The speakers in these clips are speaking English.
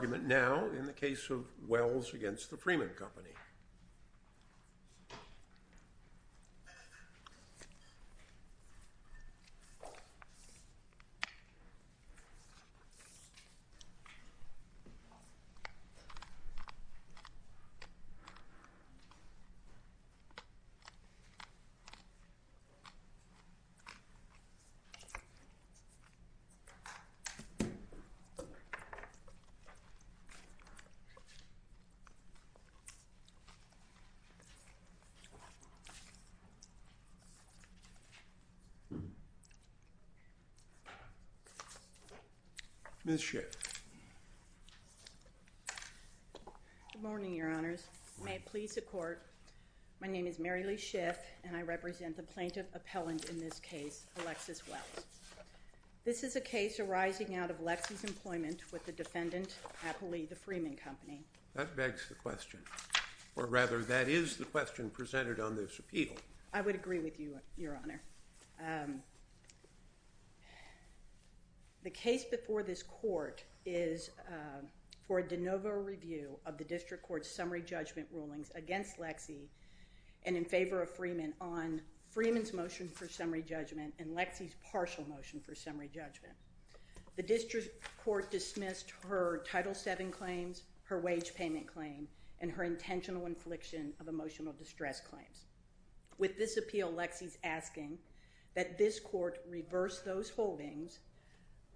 in the case of Wells v. Freeman Company. Good morning, your honors. May it please the court, my name is Mary Lee Schiff and I represent the plaintiff appellant in this case, Alexis Wells. This is a case arising out of Lexi's employment with the defendant, aptly the Freeman Company. That begs the question, or rather that is the question presented on this appeal. I would agree with you, your honor. The case before this court is for a de novo review of the district court's summary judgment rulings against Lexi and in favor of Freeman on Freeman's motion for summary judgment and Lexi's partial motion for summary judgment. The district court dismissed her Title VII claims, her wage payment claim, and her intentional infliction of emotional distress claims. With this appeal, Lexi's asking that this court reverse those holdings,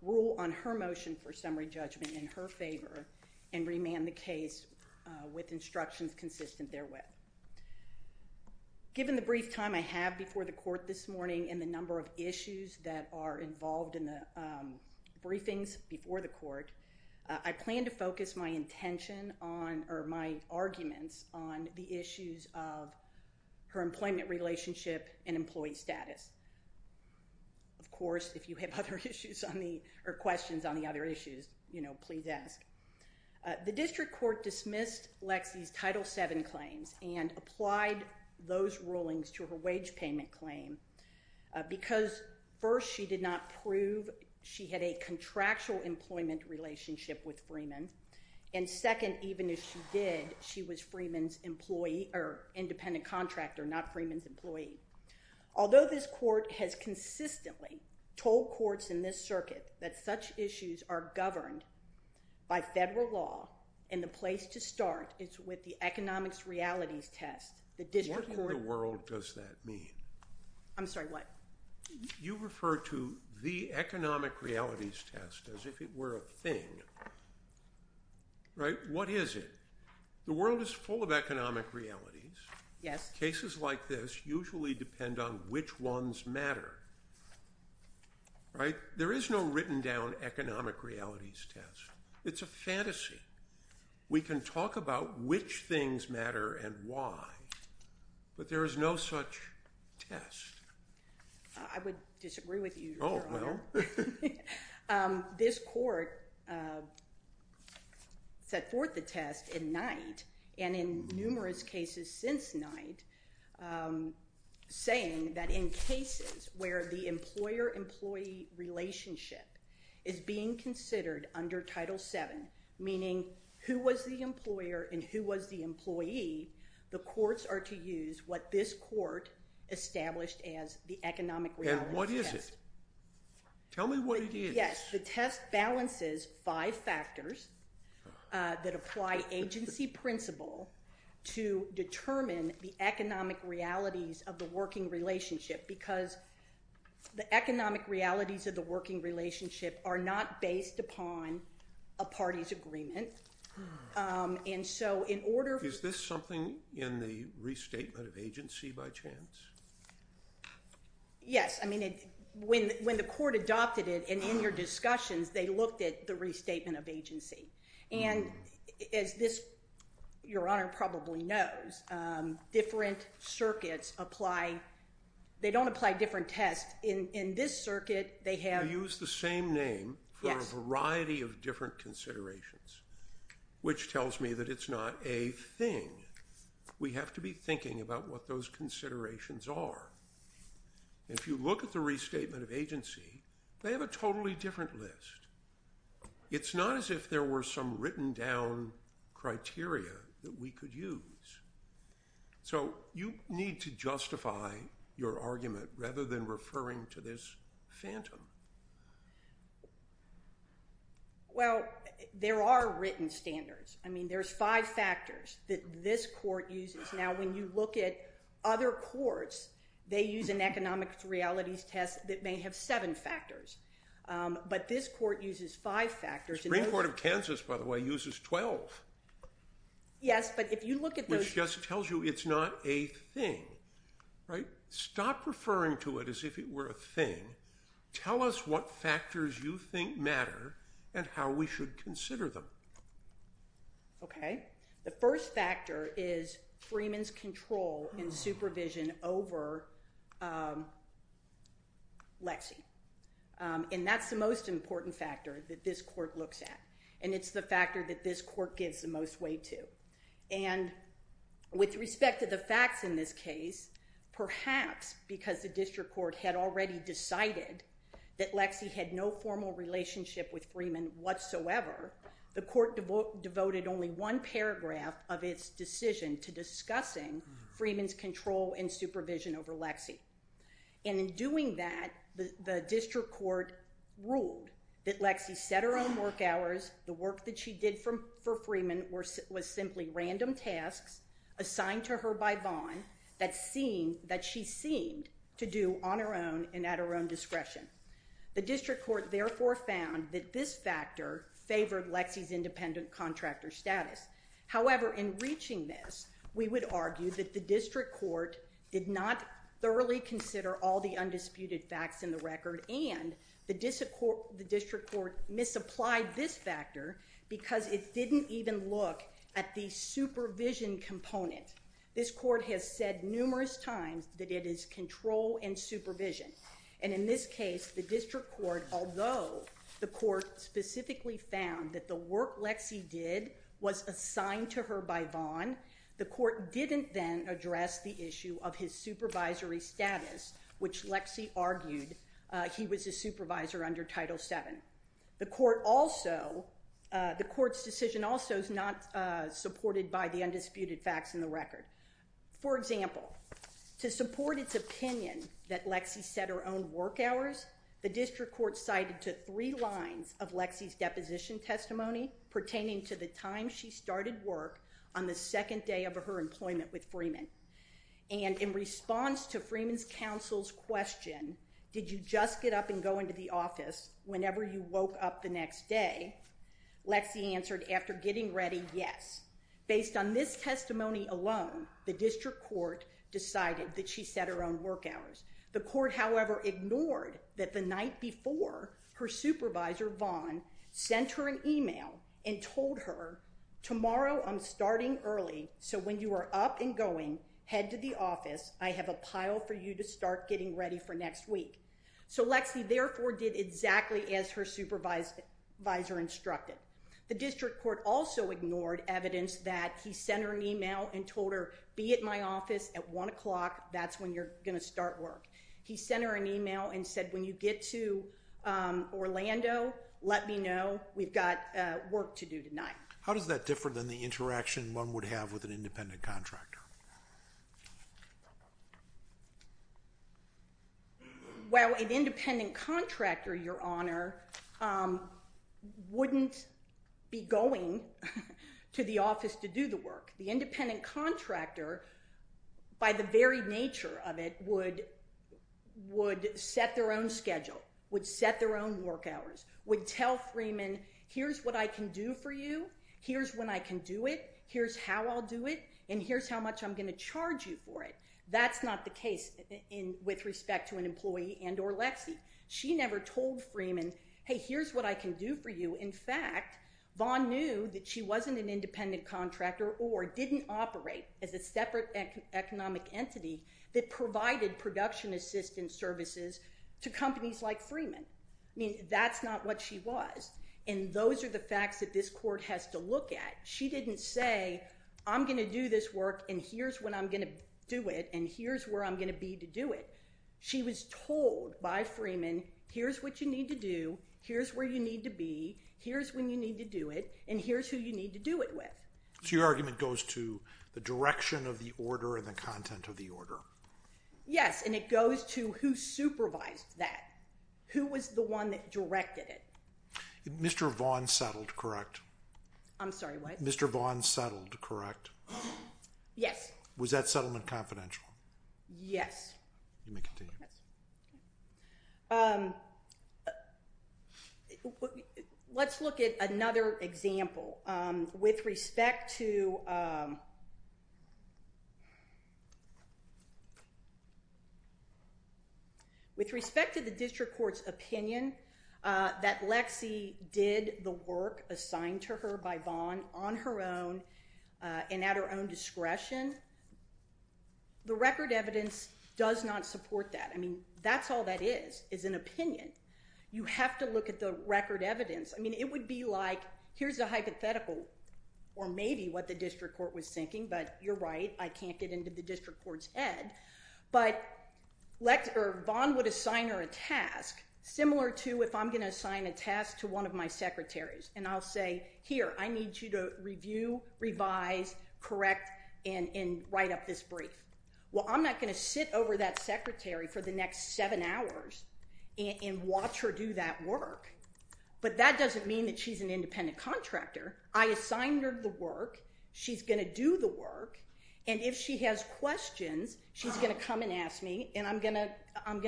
rule on her motion for summary judgment in her favor, and remand the case with instructions consistent therewith. Given the brief time I have before the court this morning and the number of issues that are involved in the briefings before the court, I plan to focus my intention on or my arguments on the issues of her employment relationship and employee status. Of course, if you have other issues on the, or questions on the other issues, you know, please ask. The district court dismissed Lexi's Title VII claims and applied those rulings to her wage payment claim because first, she did not prove she had a contractual employment relationship with Freeman and second, even if she did, she was Freeman's employee or independent contractor, not Freeman's employee. Although this court has consistently told courts in this circuit that such issues are governed by federal law and the place to start is with the economics realities test. What in the world does that mean? I'm sorry, what? You refer to the economic realities test as if it were a thing, right? What is it? The world is full of economic realities. Yes. Cases like this usually depend on which ones matter, right? There is no written down economic realities test. It's a fantasy. We can talk about which things matter and why, but there is no such test. I would disagree with you, Your Honor. Oh, well. This court set forth the test in night and in numerous cases since night, saying that in cases where the employer- meaning who was the employer and who was the employee, the courts are to use what this court established as the economic reality test. And what is it? Tell me what it is. Yes, the test balances five factors that apply agency principle to determine the economic realities of the working relationship because the economic realities of the working relationship is a party's agreement. Is this something in the restatement of agency by chance? Yes, I mean, when the court adopted it and in your discussions, they looked at the restatement of agency. And as this, Your Honor, probably knows, different circuits apply- they don't apply different tests. In this circuit, they have- You use the same name for a variety of different considerations, which tells me that it's not a thing. We have to be thinking about what those considerations are. If you look at the restatement of agency, they have a totally different list. It's not as if there were some written down criteria that we could use. So you need to justify your argument rather than referring to this phantom. Well, there are written standards. I mean, there's five factors that this court uses. Now, when you look at other courts, they use an economic realities test that may have seven factors. But this court uses five factors. The Supreme Court of Kansas, by the way, uses 12. Yes, but if you look at those- It just tells you it's not a thing, right? Stop referring to it as if it were a thing. Tell us what factors you think matter and how we should consider them. Okay. The first factor is Freeman's control and supervision over Lexi. And that's the most important factor that this court looks at. And it's the factor that this court gives the most weight to. And with respect to the facts in this case, perhaps because the district court had already decided that Lexi had no formal relationship with Freeman whatsoever, the court devoted only one paragraph of its decision to discussing Freeman's control and supervision over Lexi. And in doing that, the district court ruled that Lexi set her own work hours, the work that she did for Freeman was simply random tasks assigned to her by Vaughn that she seemed to do on her own and at her own discretion. The district court therefore found that this factor favored Lexi's independent contractor status. However, in reaching this, we would argue that the district court did not thoroughly consider all the undisputed facts in the record and the district court misapplied this factor because it didn't even look at the supervision component. This court has said numerous times that it is control and supervision. And in this case, the district court, although the court specifically found that the work Lexi did was assigned to her by Vaughn, the court didn't then address the issue of his supervisory status, which Lexi argued he was a supervisor under Title VII. The court also, the court's decision also is not supported by the undisputed facts in the record. For example, to support its opinion that Lexi set her own work hours, the district court cited to three lines of Lexi's deposition testimony pertaining to the time she started work on the second day of her employment with Freeman. And in response to Freeman's counsel's question, did you just get up and go into the office whenever you woke up the next day, Lexi answered after getting ready, yes. Based on this testimony alone, the district court decided that she set her own work hours. The court, however, ignored that the night before her supervisor, Vaughn, sent her an email and told her, tomorrow I'm starting early, so when you are up and going, head to the office, I have a pile for you to start getting ready for next week. So Lexi, therefore, did exactly as her supervisor instructed. The district court also ignored evidence that he sent her an email and told her, be at my office at one o'clock, that's when you're going to start work. He sent her an email and said, when you get to Orlando, let me know, we've got work to do tonight. How does that differ than the interaction one would have with an independent contractor? Well, an independent contractor, Your Honor, wouldn't be going to the office to do the work. The independent contractor, by the very nature of it, would set their own schedule, would set their own work hours, would tell Freeman, here's what I can do for you, here's when I can do it, here's how I'll do it, and here's how much I'm going to charge you for it. That's not the case with respect to an employee and or Lexi. She never told Freeman, hey, here's what I can do for you. In fact, Vaughn knew that she wasn't an independent contractor or didn't operate as a separate economic entity that provided production assistance services to companies like Freeman. I mean, that's not what she was. And those are the facts that this court has to look at. She didn't say, I'm going to do this work, and here's when I'm going to do it, and here's where I'm going to be to do it. She was told by Freeman, here's what you need to do, here's where you need to be, here's when you need to do it, and here's who you need to do it with. So your argument goes to the direction of the order and the content of the order? Yes, and it goes to who supervised that. Who was the one that directed it? Mr. Vaughn settled, correct? I'm sorry, what? Mr. Vaughn settled, correct? Yes. Was that settlement confidential? Yes. You may continue. Let's look at another example. With respect to the district court's opinion that Lexi did the work assigned to her by Vaughn on her own and at her own discretion, the record evidence does not support that. I mean, that's all that is, is an opinion. You have to look at the record evidence. I mean, it would be like, here's a hypothetical, or maybe what the district court was thinking, but you're right, I can't get into the district court's head. But Vaughn would assign her a task similar to if I'm going to assign a task to one of my secretaries, and I'll say, here, I need you to review, revise, correct, and write up this brief. Well, I'm not going to sit over that secretary for the next seven hours and watch her do that work, but that doesn't mean that she's an independent contractor. I assigned her the work, she's going to do the work, and if she has questions, she's going to come and ask me, and I'm going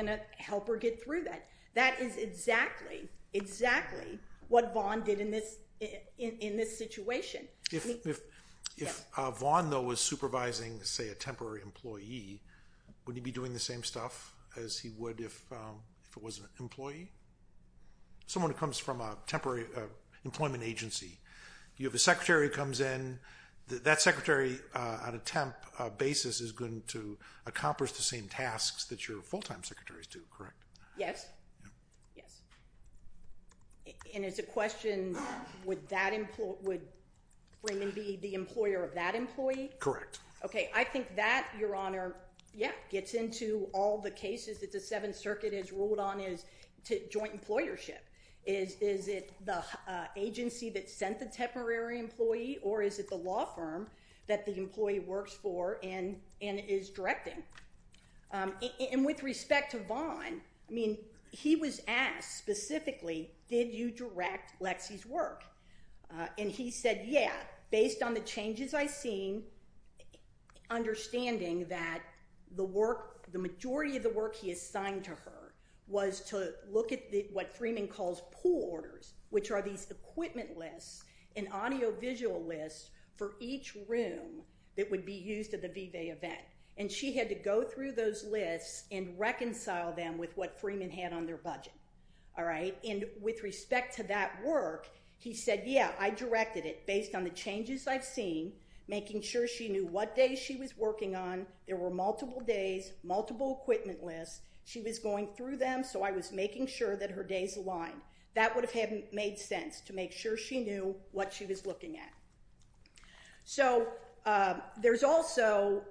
to help her get through that. That is exactly, exactly what Vaughn did in this situation. If Vaughn, though, was supervising, say, a temporary employee, would he be doing the same stuff as he would if it was an employee? Someone who comes from a temporary employment agency. You have a secretary who comes in. That secretary, on a temp basis, is going to accomplish the same tasks that your full-time secretaries do, correct? Yes, yes. And it's a question, would Raymond be the employer of that employee? Correct. Okay, I think that, Your Honor, yeah, gets into all the cases that the Seventh Circuit has ruled on as joint employership. Is it the agency that sent the temporary employee, or is it the law firm that the employee works for and is directing? And with respect to Vaughn, I mean, he was asked specifically, did you direct Lexi's work? And he said, yeah, based on the changes I've seen, understanding that the majority of the work he assigned to her was to look at what Freeman calls pool orders, which are these equipment lists and audiovisual lists for each room that would be used at the Vive event. And she had to go through those lists and reconcile them with what Freeman had on their budget, all right? And with respect to that work, he said, yeah, I directed it based on the changes I've seen, making sure she knew what days she was working on. There were multiple days, multiple equipment lists. She was going through them, so I was making sure that her days aligned. That would have made sense to make sure she knew what she was looking at. So there's also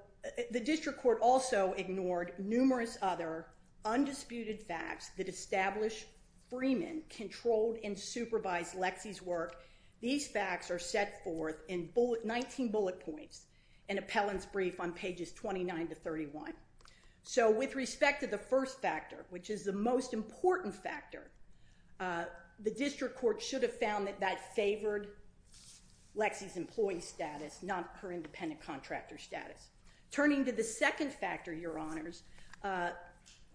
the district court also ignored numerous other undisputed facts that establish Freeman controlled and supervised Lexi's work. These facts are set forth in 19 bullet points and appellant's brief on pages 29 to 31. So with respect to the first factor, which is the most important factor, the district court should have found that that favored Lexi's employee status, not her independent contractor status. Turning to the second factor, Your Honors,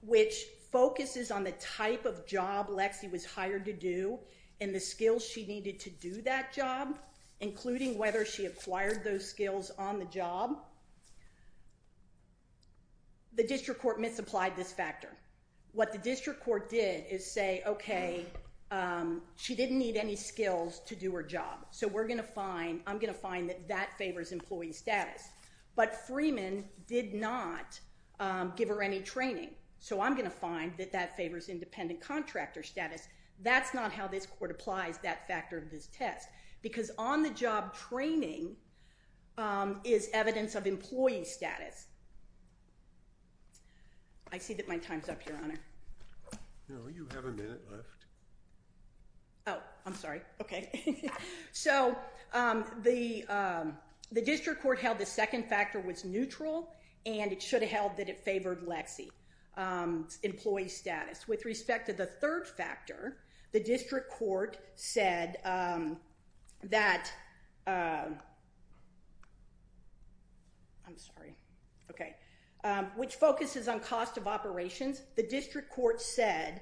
which focuses on the type of job Lexi was hired to do and the skills she needed to do that job, including whether she acquired those skills on the job, the district court misapplied this factor. What the district court did is say, okay, she didn't need any skills to do her job. So we're going to find, I'm going to find that that favors employee status. But Freeman did not give her any training. So I'm going to find that that favors independent contractor status. That's not how this court applies that factor of this test, because on the job training is evidence of employee status. I see that my time's up, Your Honor. No, you have a minute left. Oh, I'm sorry. Okay. So the district court held the second factor was neutral, and it should have held that it favored Lexi's employee status. With respect to the third factor, the district court said that, I'm sorry, okay, which focuses on cost of operations. The district court said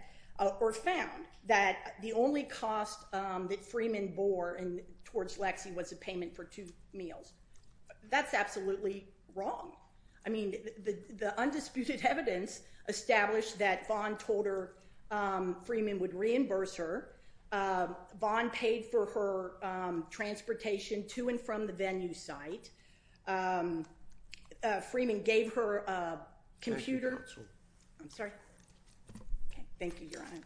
or found that the only cost that Freeman bore towards Lexi was a payment for two meals. That's absolutely wrong. I mean, the undisputed evidence established that Vaughn told her Freeman would reimburse her. Vaughn paid for her transportation to and from the venue site. Freeman gave her a computer. Thank you, counsel. I'm sorry. Thank you, Your Honor.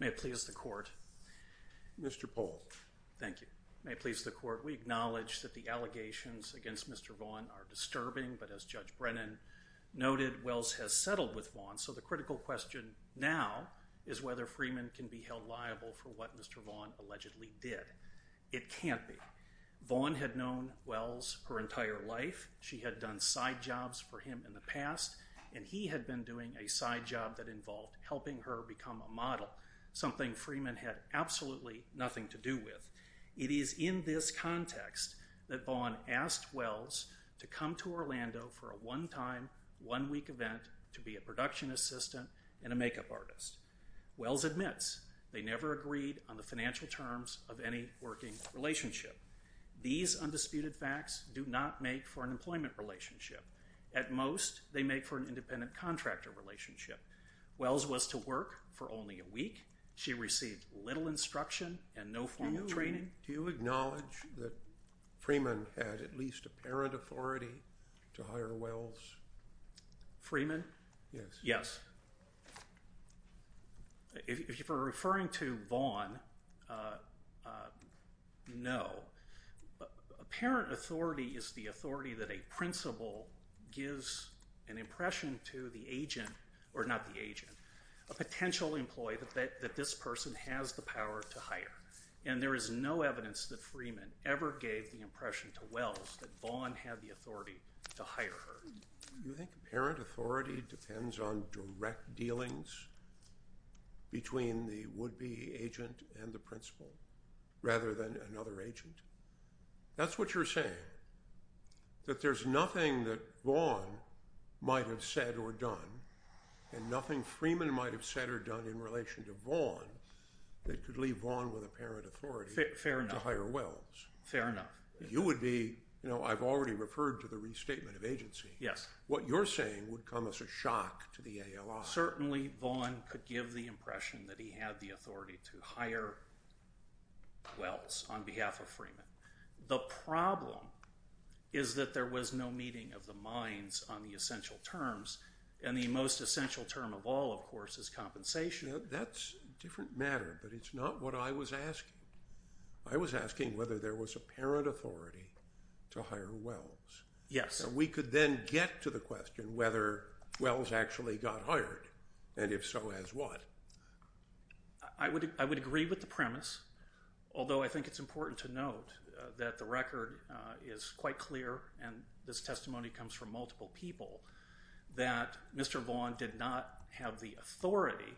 May it please the court. Mr. Pohl. Thank you. May it please the court. We acknowledge that the allegations against Mr. Vaughn are disturbing, but as Judge Brennan noted, Wells has settled with Vaughn. So the critical question now is whether Freeman can be held liable for what Mr. Vaughn allegedly did. It can't be. Vaughn had known Wells her entire life. She had done side jobs for him in the past, and he had been doing a side job that involved helping her become a model, something Freeman had absolutely nothing to do with. It is in this context that Vaughn asked Wells to come to Orlando for a one-time, one-week event to be a production assistant and a makeup artist. Wells admits they never agreed on the financial terms of any working relationship. These undisputed facts do not make for an employment relationship. At most, they make for an independent contractor relationship. Wells was to work for only a week. She received little instruction and no formal training. Do you acknowledge that Freeman had at least apparent authority to hire Wells? Freeman? Yes. Yes. If you're referring to Vaughn, no. Apparent authority is the authority that a principal gives an impression to the agent, or not the agent, a potential employee that this person has the power to hire. And there is no evidence that Freeman ever gave the impression to Wells that Vaughn had the authority to hire her. Do you think apparent authority depends on direct dealings between the would-be agent and the principal rather than another agent? That's what you're saying, that there's nothing that Vaughn might have said or done, and nothing Freeman might have said or done in relation to Vaughn that could leave Vaughn with apparent authority to hire Wells. Fair enough. You would be, you know, I've already referred to the restatement of agency. Yes. What you're saying would come as a shock to the ALI. Well, certainly Vaughn could give the impression that he had the authority to hire Wells on behalf of Freeman. The problem is that there was no meeting of the minds on the essential terms, and the most essential term of all, of course, is compensation. That's a different matter, but it's not what I was asking. I was asking whether there was apparent authority to hire Wells. Yes. So we could then get to the question whether Wells actually got hired, and if so, as what? I would agree with the premise, although I think it's important to note that the record is quite clear, and this testimony comes from multiple people, that Mr. Vaughn did not have the authority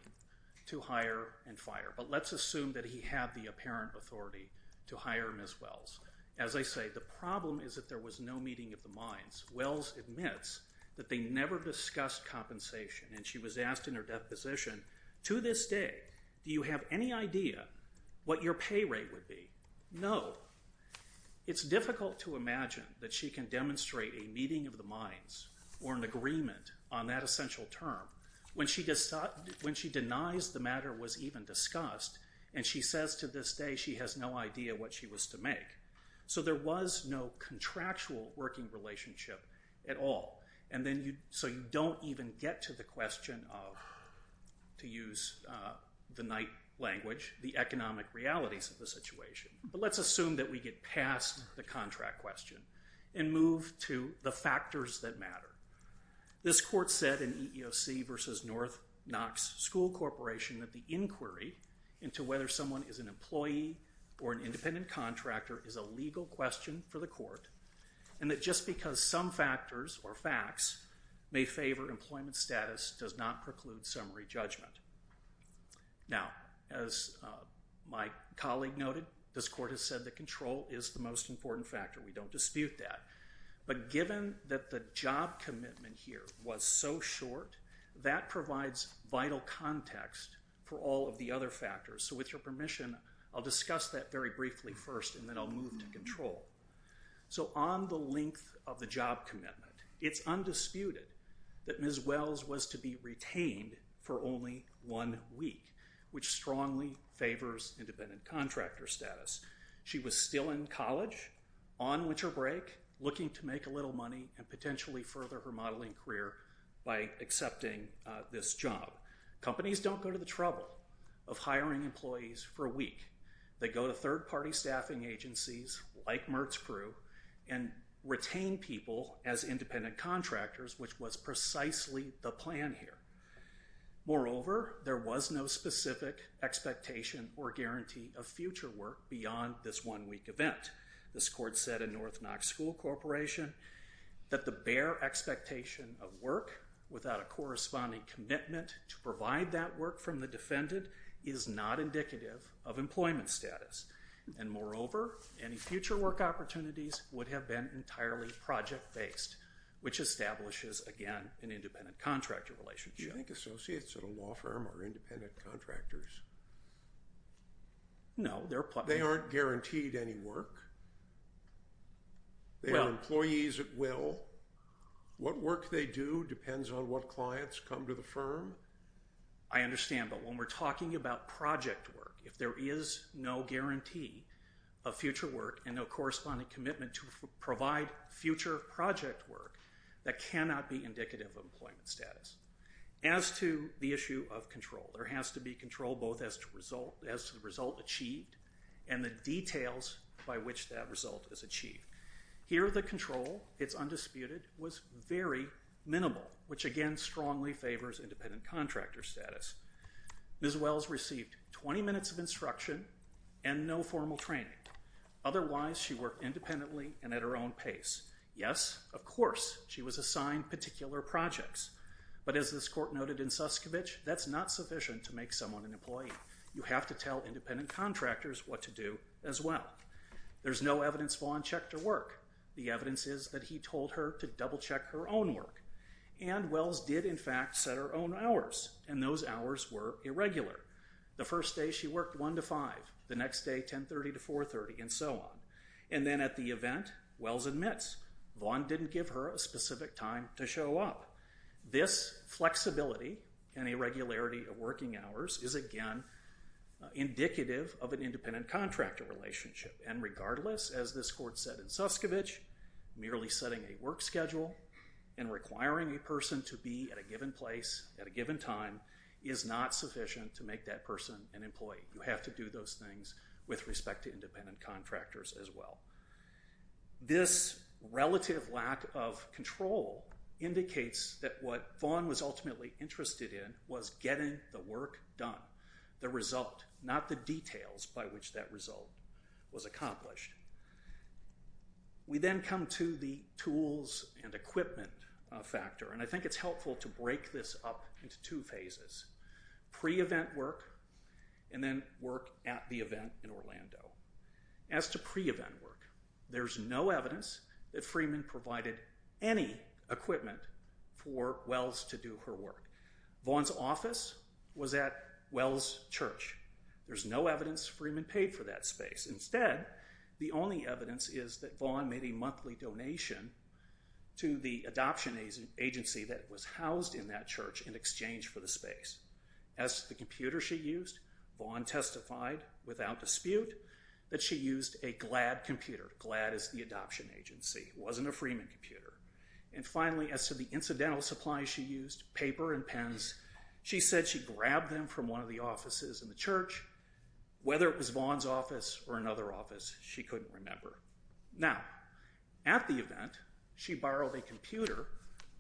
to hire and fire. But let's assume that he had the apparent authority to hire Ms. Wells. As I say, the problem is that there was no meeting of the minds. Wells admits that they never discussed compensation, and she was asked in her deposition, to this day, do you have any idea what your pay rate would be? No. It's difficult to imagine that she can demonstrate a meeting of the minds or an agreement on that essential term when she denies the matter was even discussed, and she says to this day she has no idea what she was to make. So there was no contractual working relationship at all. So you don't even get to the question of, to use the Knight language, the economic realities of the situation. But let's assume that we get past the contract question and move to the factors that matter. This court said in EEOC v. North Knox School Corporation that the inquiry into whether someone is an employee or an independent contractor is a legal question for the court, and that just because some factors or facts may favor employment status does not preclude summary judgment. Now, as my colleague noted, this court has said that control is the most important factor. We don't dispute that. But given that the job commitment here was so short, that provides vital context for all of the other factors. So with your permission, I'll discuss that very briefly first, and then I'll move to control. So on the length of the job commitment, it's undisputed that Ms. Wells was to be retained for only one week, which strongly favors independent contractor status. She was still in college on winter break, looking to make a little money and potentially further her modeling career by accepting this job. Companies don't go to the trouble of hiring employees for a week. They go to third-party staffing agencies like Mertz Crew and retain people as independent contractors, which was precisely the plan here. Moreover, there was no specific expectation or guarantee of future work beyond this one-week event. This court said in North Knox School Corporation that the bare expectation of work without a corresponding commitment to provide that work from the defendant is not indicative of employment status. And moreover, any future work opportunities would have been entirely project-based, which establishes, again, an independent contractor relationship. Do you think associates at a law firm are independent contractors? No. They aren't guaranteed any work? They are employees at will? What work they do depends on what clients come to the firm? I understand, but when we're talking about project work, if there is no guarantee of future work and no corresponding commitment to provide future project work, that cannot be indicative of employment status. As to the issue of control, there has to be control both as to the result achieved and the details by which that result is achieved. Here, the control, it's undisputed, was very minimal, which, again, strongly favors independent contractor status. Ms. Wells received 20 minutes of instruction and no formal training. Otherwise, she worked independently and at her own pace. Yes, of course, she was assigned particular projects. But as this court noted in Suskovich, that's not sufficient to make someone an employee. You have to tell independent contractors what to do as well. There's no evidence Vaughn checked her work. The evidence is that he told her to double-check her own work. And Wells did, in fact, set her own hours, and those hours were irregular. The first day, she worked 1 to 5. The next day, 10.30 to 4.30, and so on. And then at the event, Wells admits Vaughn didn't give her a specific time to show up. This flexibility and irregularity of working hours is, again, indicative of an independent contractor relationship. And regardless, as this court said in Suskovich, merely setting a work schedule and requiring a person to be at a given place at a given time is not sufficient to make that person an employee. You have to do those things with respect to independent contractors as well. This relative lack of control indicates that what Vaughn was ultimately interested in was getting the work done, the result, not the details by which that result was accomplished. We then come to the tools and equipment factor, and I think it's helpful to break this up into two phases. Pre-event work, and then work at the event in Orlando. As to pre-event work, there's no evidence that Freeman provided any equipment for Wells to do her work. Vaughn's office was at Wells' church. There's no evidence Freeman paid for that space. Instead, the only evidence is that Vaughn made a monthly donation to the adoption agency that was housed in that church in exchange for the space. As to the computer she used, Vaughn testified without dispute that she used a GLAD computer. GLAD is the adoption agency. It wasn't a Freeman computer. And finally, as to the incidental supplies she used, paper and pens, she said she grabbed them from one of the offices in the church. Whether it was Vaughn's office or another office, she couldn't remember. Now, at the event, she borrowed a computer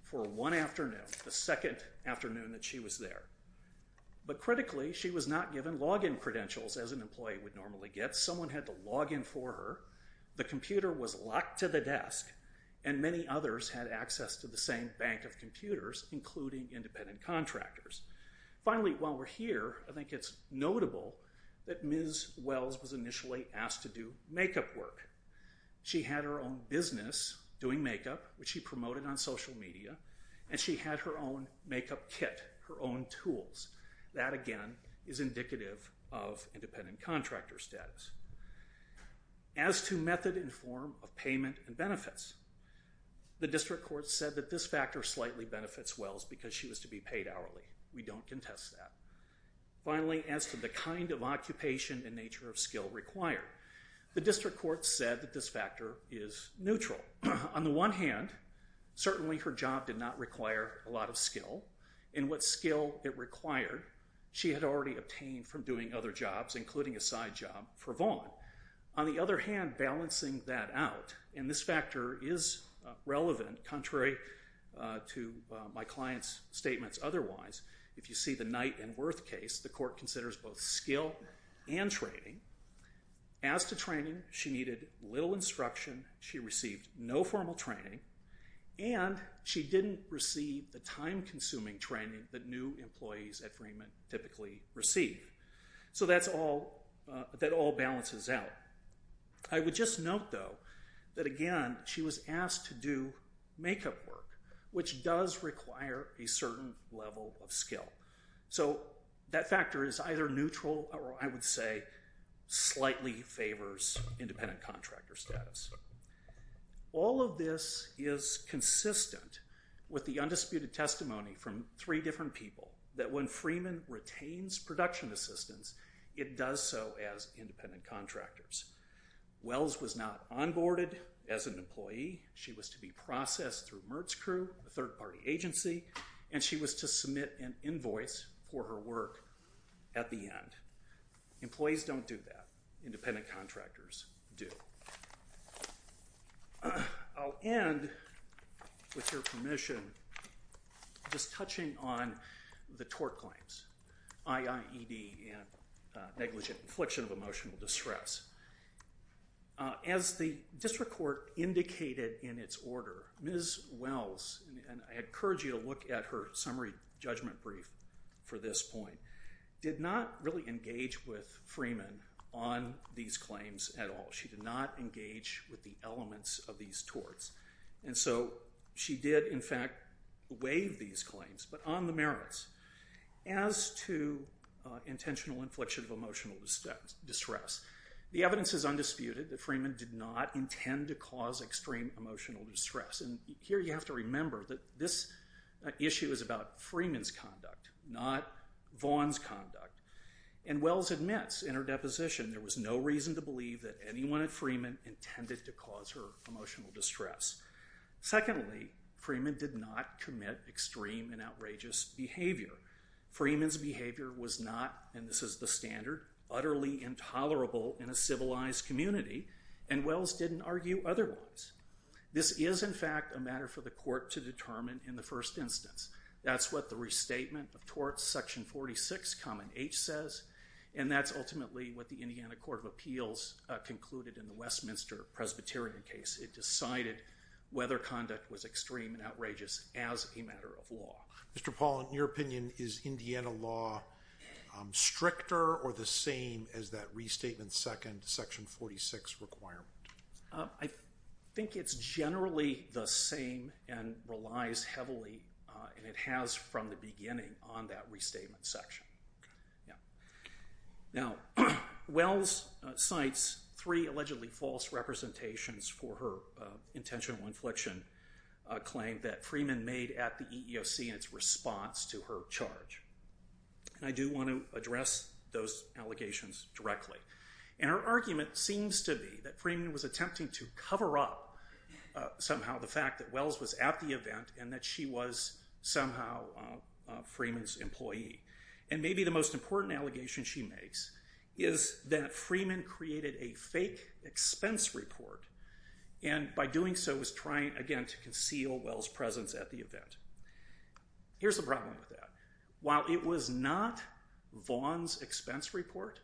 for one afternoon, the second afternoon that she was there. But critically, she was not given login credentials as an employee would normally get. Someone had to log in for her, the computer was locked to the desk, and many others had access to the same bank of computers, including independent contractors. Finally, while we're here, I think it's notable that Ms. Wells was initially asked to do makeup work. She had her own business doing makeup, which she promoted on social media, and she had her own makeup kit, her own tools. That, again, is indicative of independent contractor status. As to method and form of payment and benefits, the district court said that this factor slightly benefits Wells because she was to be paid hourly. We don't contest that. Finally, as to the kind of occupation and nature of skill required, the district court said that this factor is neutral. On the one hand, certainly her job did not require a lot of skill, and what skill it required, she had already obtained from doing other jobs, including a side job for Vaughn. On the other hand, balancing that out, and this factor is relevant, contrary to my client's statements otherwise, if you see the Knight and Worth case, the court considers both skill and training. As to training, she needed little instruction. She received no formal training, and she didn't receive the time-consuming training that new employees at Freeman typically receive. So that all balances out. I would just note, though, that, again, she was asked to do makeup work, which does require a certain level of skill. So that factor is either neutral or, I would say, slightly favors independent contractor status. All of this is consistent with the undisputed testimony from three different people that when Freeman retains production assistance, it does so as independent contractors. Wells was not onboarded as an employee. She was to be processed through Mertz Crew, a third-party agency, and she was to submit an invoice for her work at the end. Employees don't do that. Independent contractors do. I'll end, with your permission, just touching on the tort claims, IIED and negligent infliction of emotional distress. As the district court indicated in its order, Ms. Wells, and I encourage you to look at her summary judgment brief for this point, did not really engage with Freeman on these claims at all. She did not engage with the elements of these torts. And so she did, in fact, waive these claims, but on the merits. As to intentional infliction of emotional distress, the evidence is undisputed that Freeman did not intend to cause extreme emotional distress. And here you have to remember that this issue is about Freeman's conduct, not Vaughn's conduct. And Wells admits in her deposition there was no reason to believe that anyone at Freeman intended to cause her emotional distress. Secondly, Freeman did not commit extreme and outrageous behavior. Freeman's behavior was not, and this is the standard, utterly intolerable in a civilized community, and Wells didn't argue otherwise. This is, in fact, a matter for the court to determine in the first instance. That's what the restatement of torts, section 46, common H says, and that's ultimately what the Indiana Court of Appeals concluded in the Westminster Presbyterian case. It decided whether conduct was extreme and outrageous as a matter of law. Mr. Paul, in your opinion, is Indiana law stricter or the same as that restatement second, section 46 requirement? I think it's generally the same and relies heavily, and it has from the beginning, on that restatement section. Now, Wells cites three allegedly false representations for her intentional infliction claim that Freeman made at the EEOC in its response to her charge. And I do want to address those allegations directly. And her argument seems to be that Freeman was attempting to cover up somehow the fact that Wells was at the event and that she was somehow Freeman's employee. And maybe the most important allegation she makes is that Freeman created a fake expense report and by doing so was trying, again, to conceal Wells' presence at the event. Here's the problem with that. While it was not Vaughn's expense report,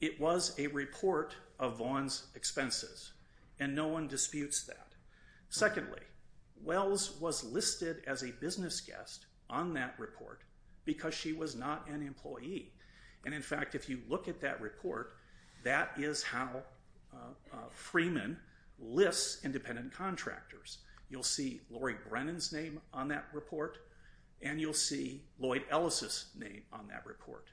it was a report of Vaughn's expenses, and no one disputes that. Secondly, Wells was listed as a business guest on that report because she was not an employee. And in fact, if you look at that report, that is how Freeman lists independent contractors. You'll see Lori Brennan's name on that report, and you'll see Lloyd Ellis's name on that report.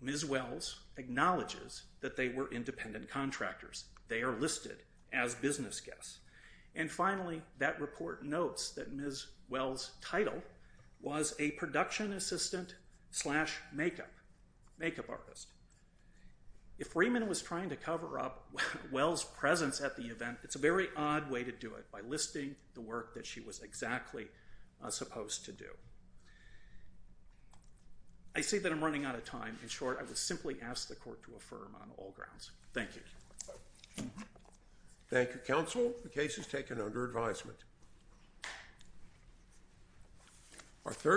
Ms. Wells acknowledges that they were independent contractors. They are listed as business guests. And finally, that report notes that Ms. Wells' title was a production assistant slash makeup artist. If Freeman was trying to cover up Wells' presence at the event, it's a very odd way to do it, by listing the work that she was exactly supposed to do. I see that I'm running out of time. In short, I would simply ask the Court to affirm on all grounds. Thank you. Thank you, counsel. The case is taken under advisement.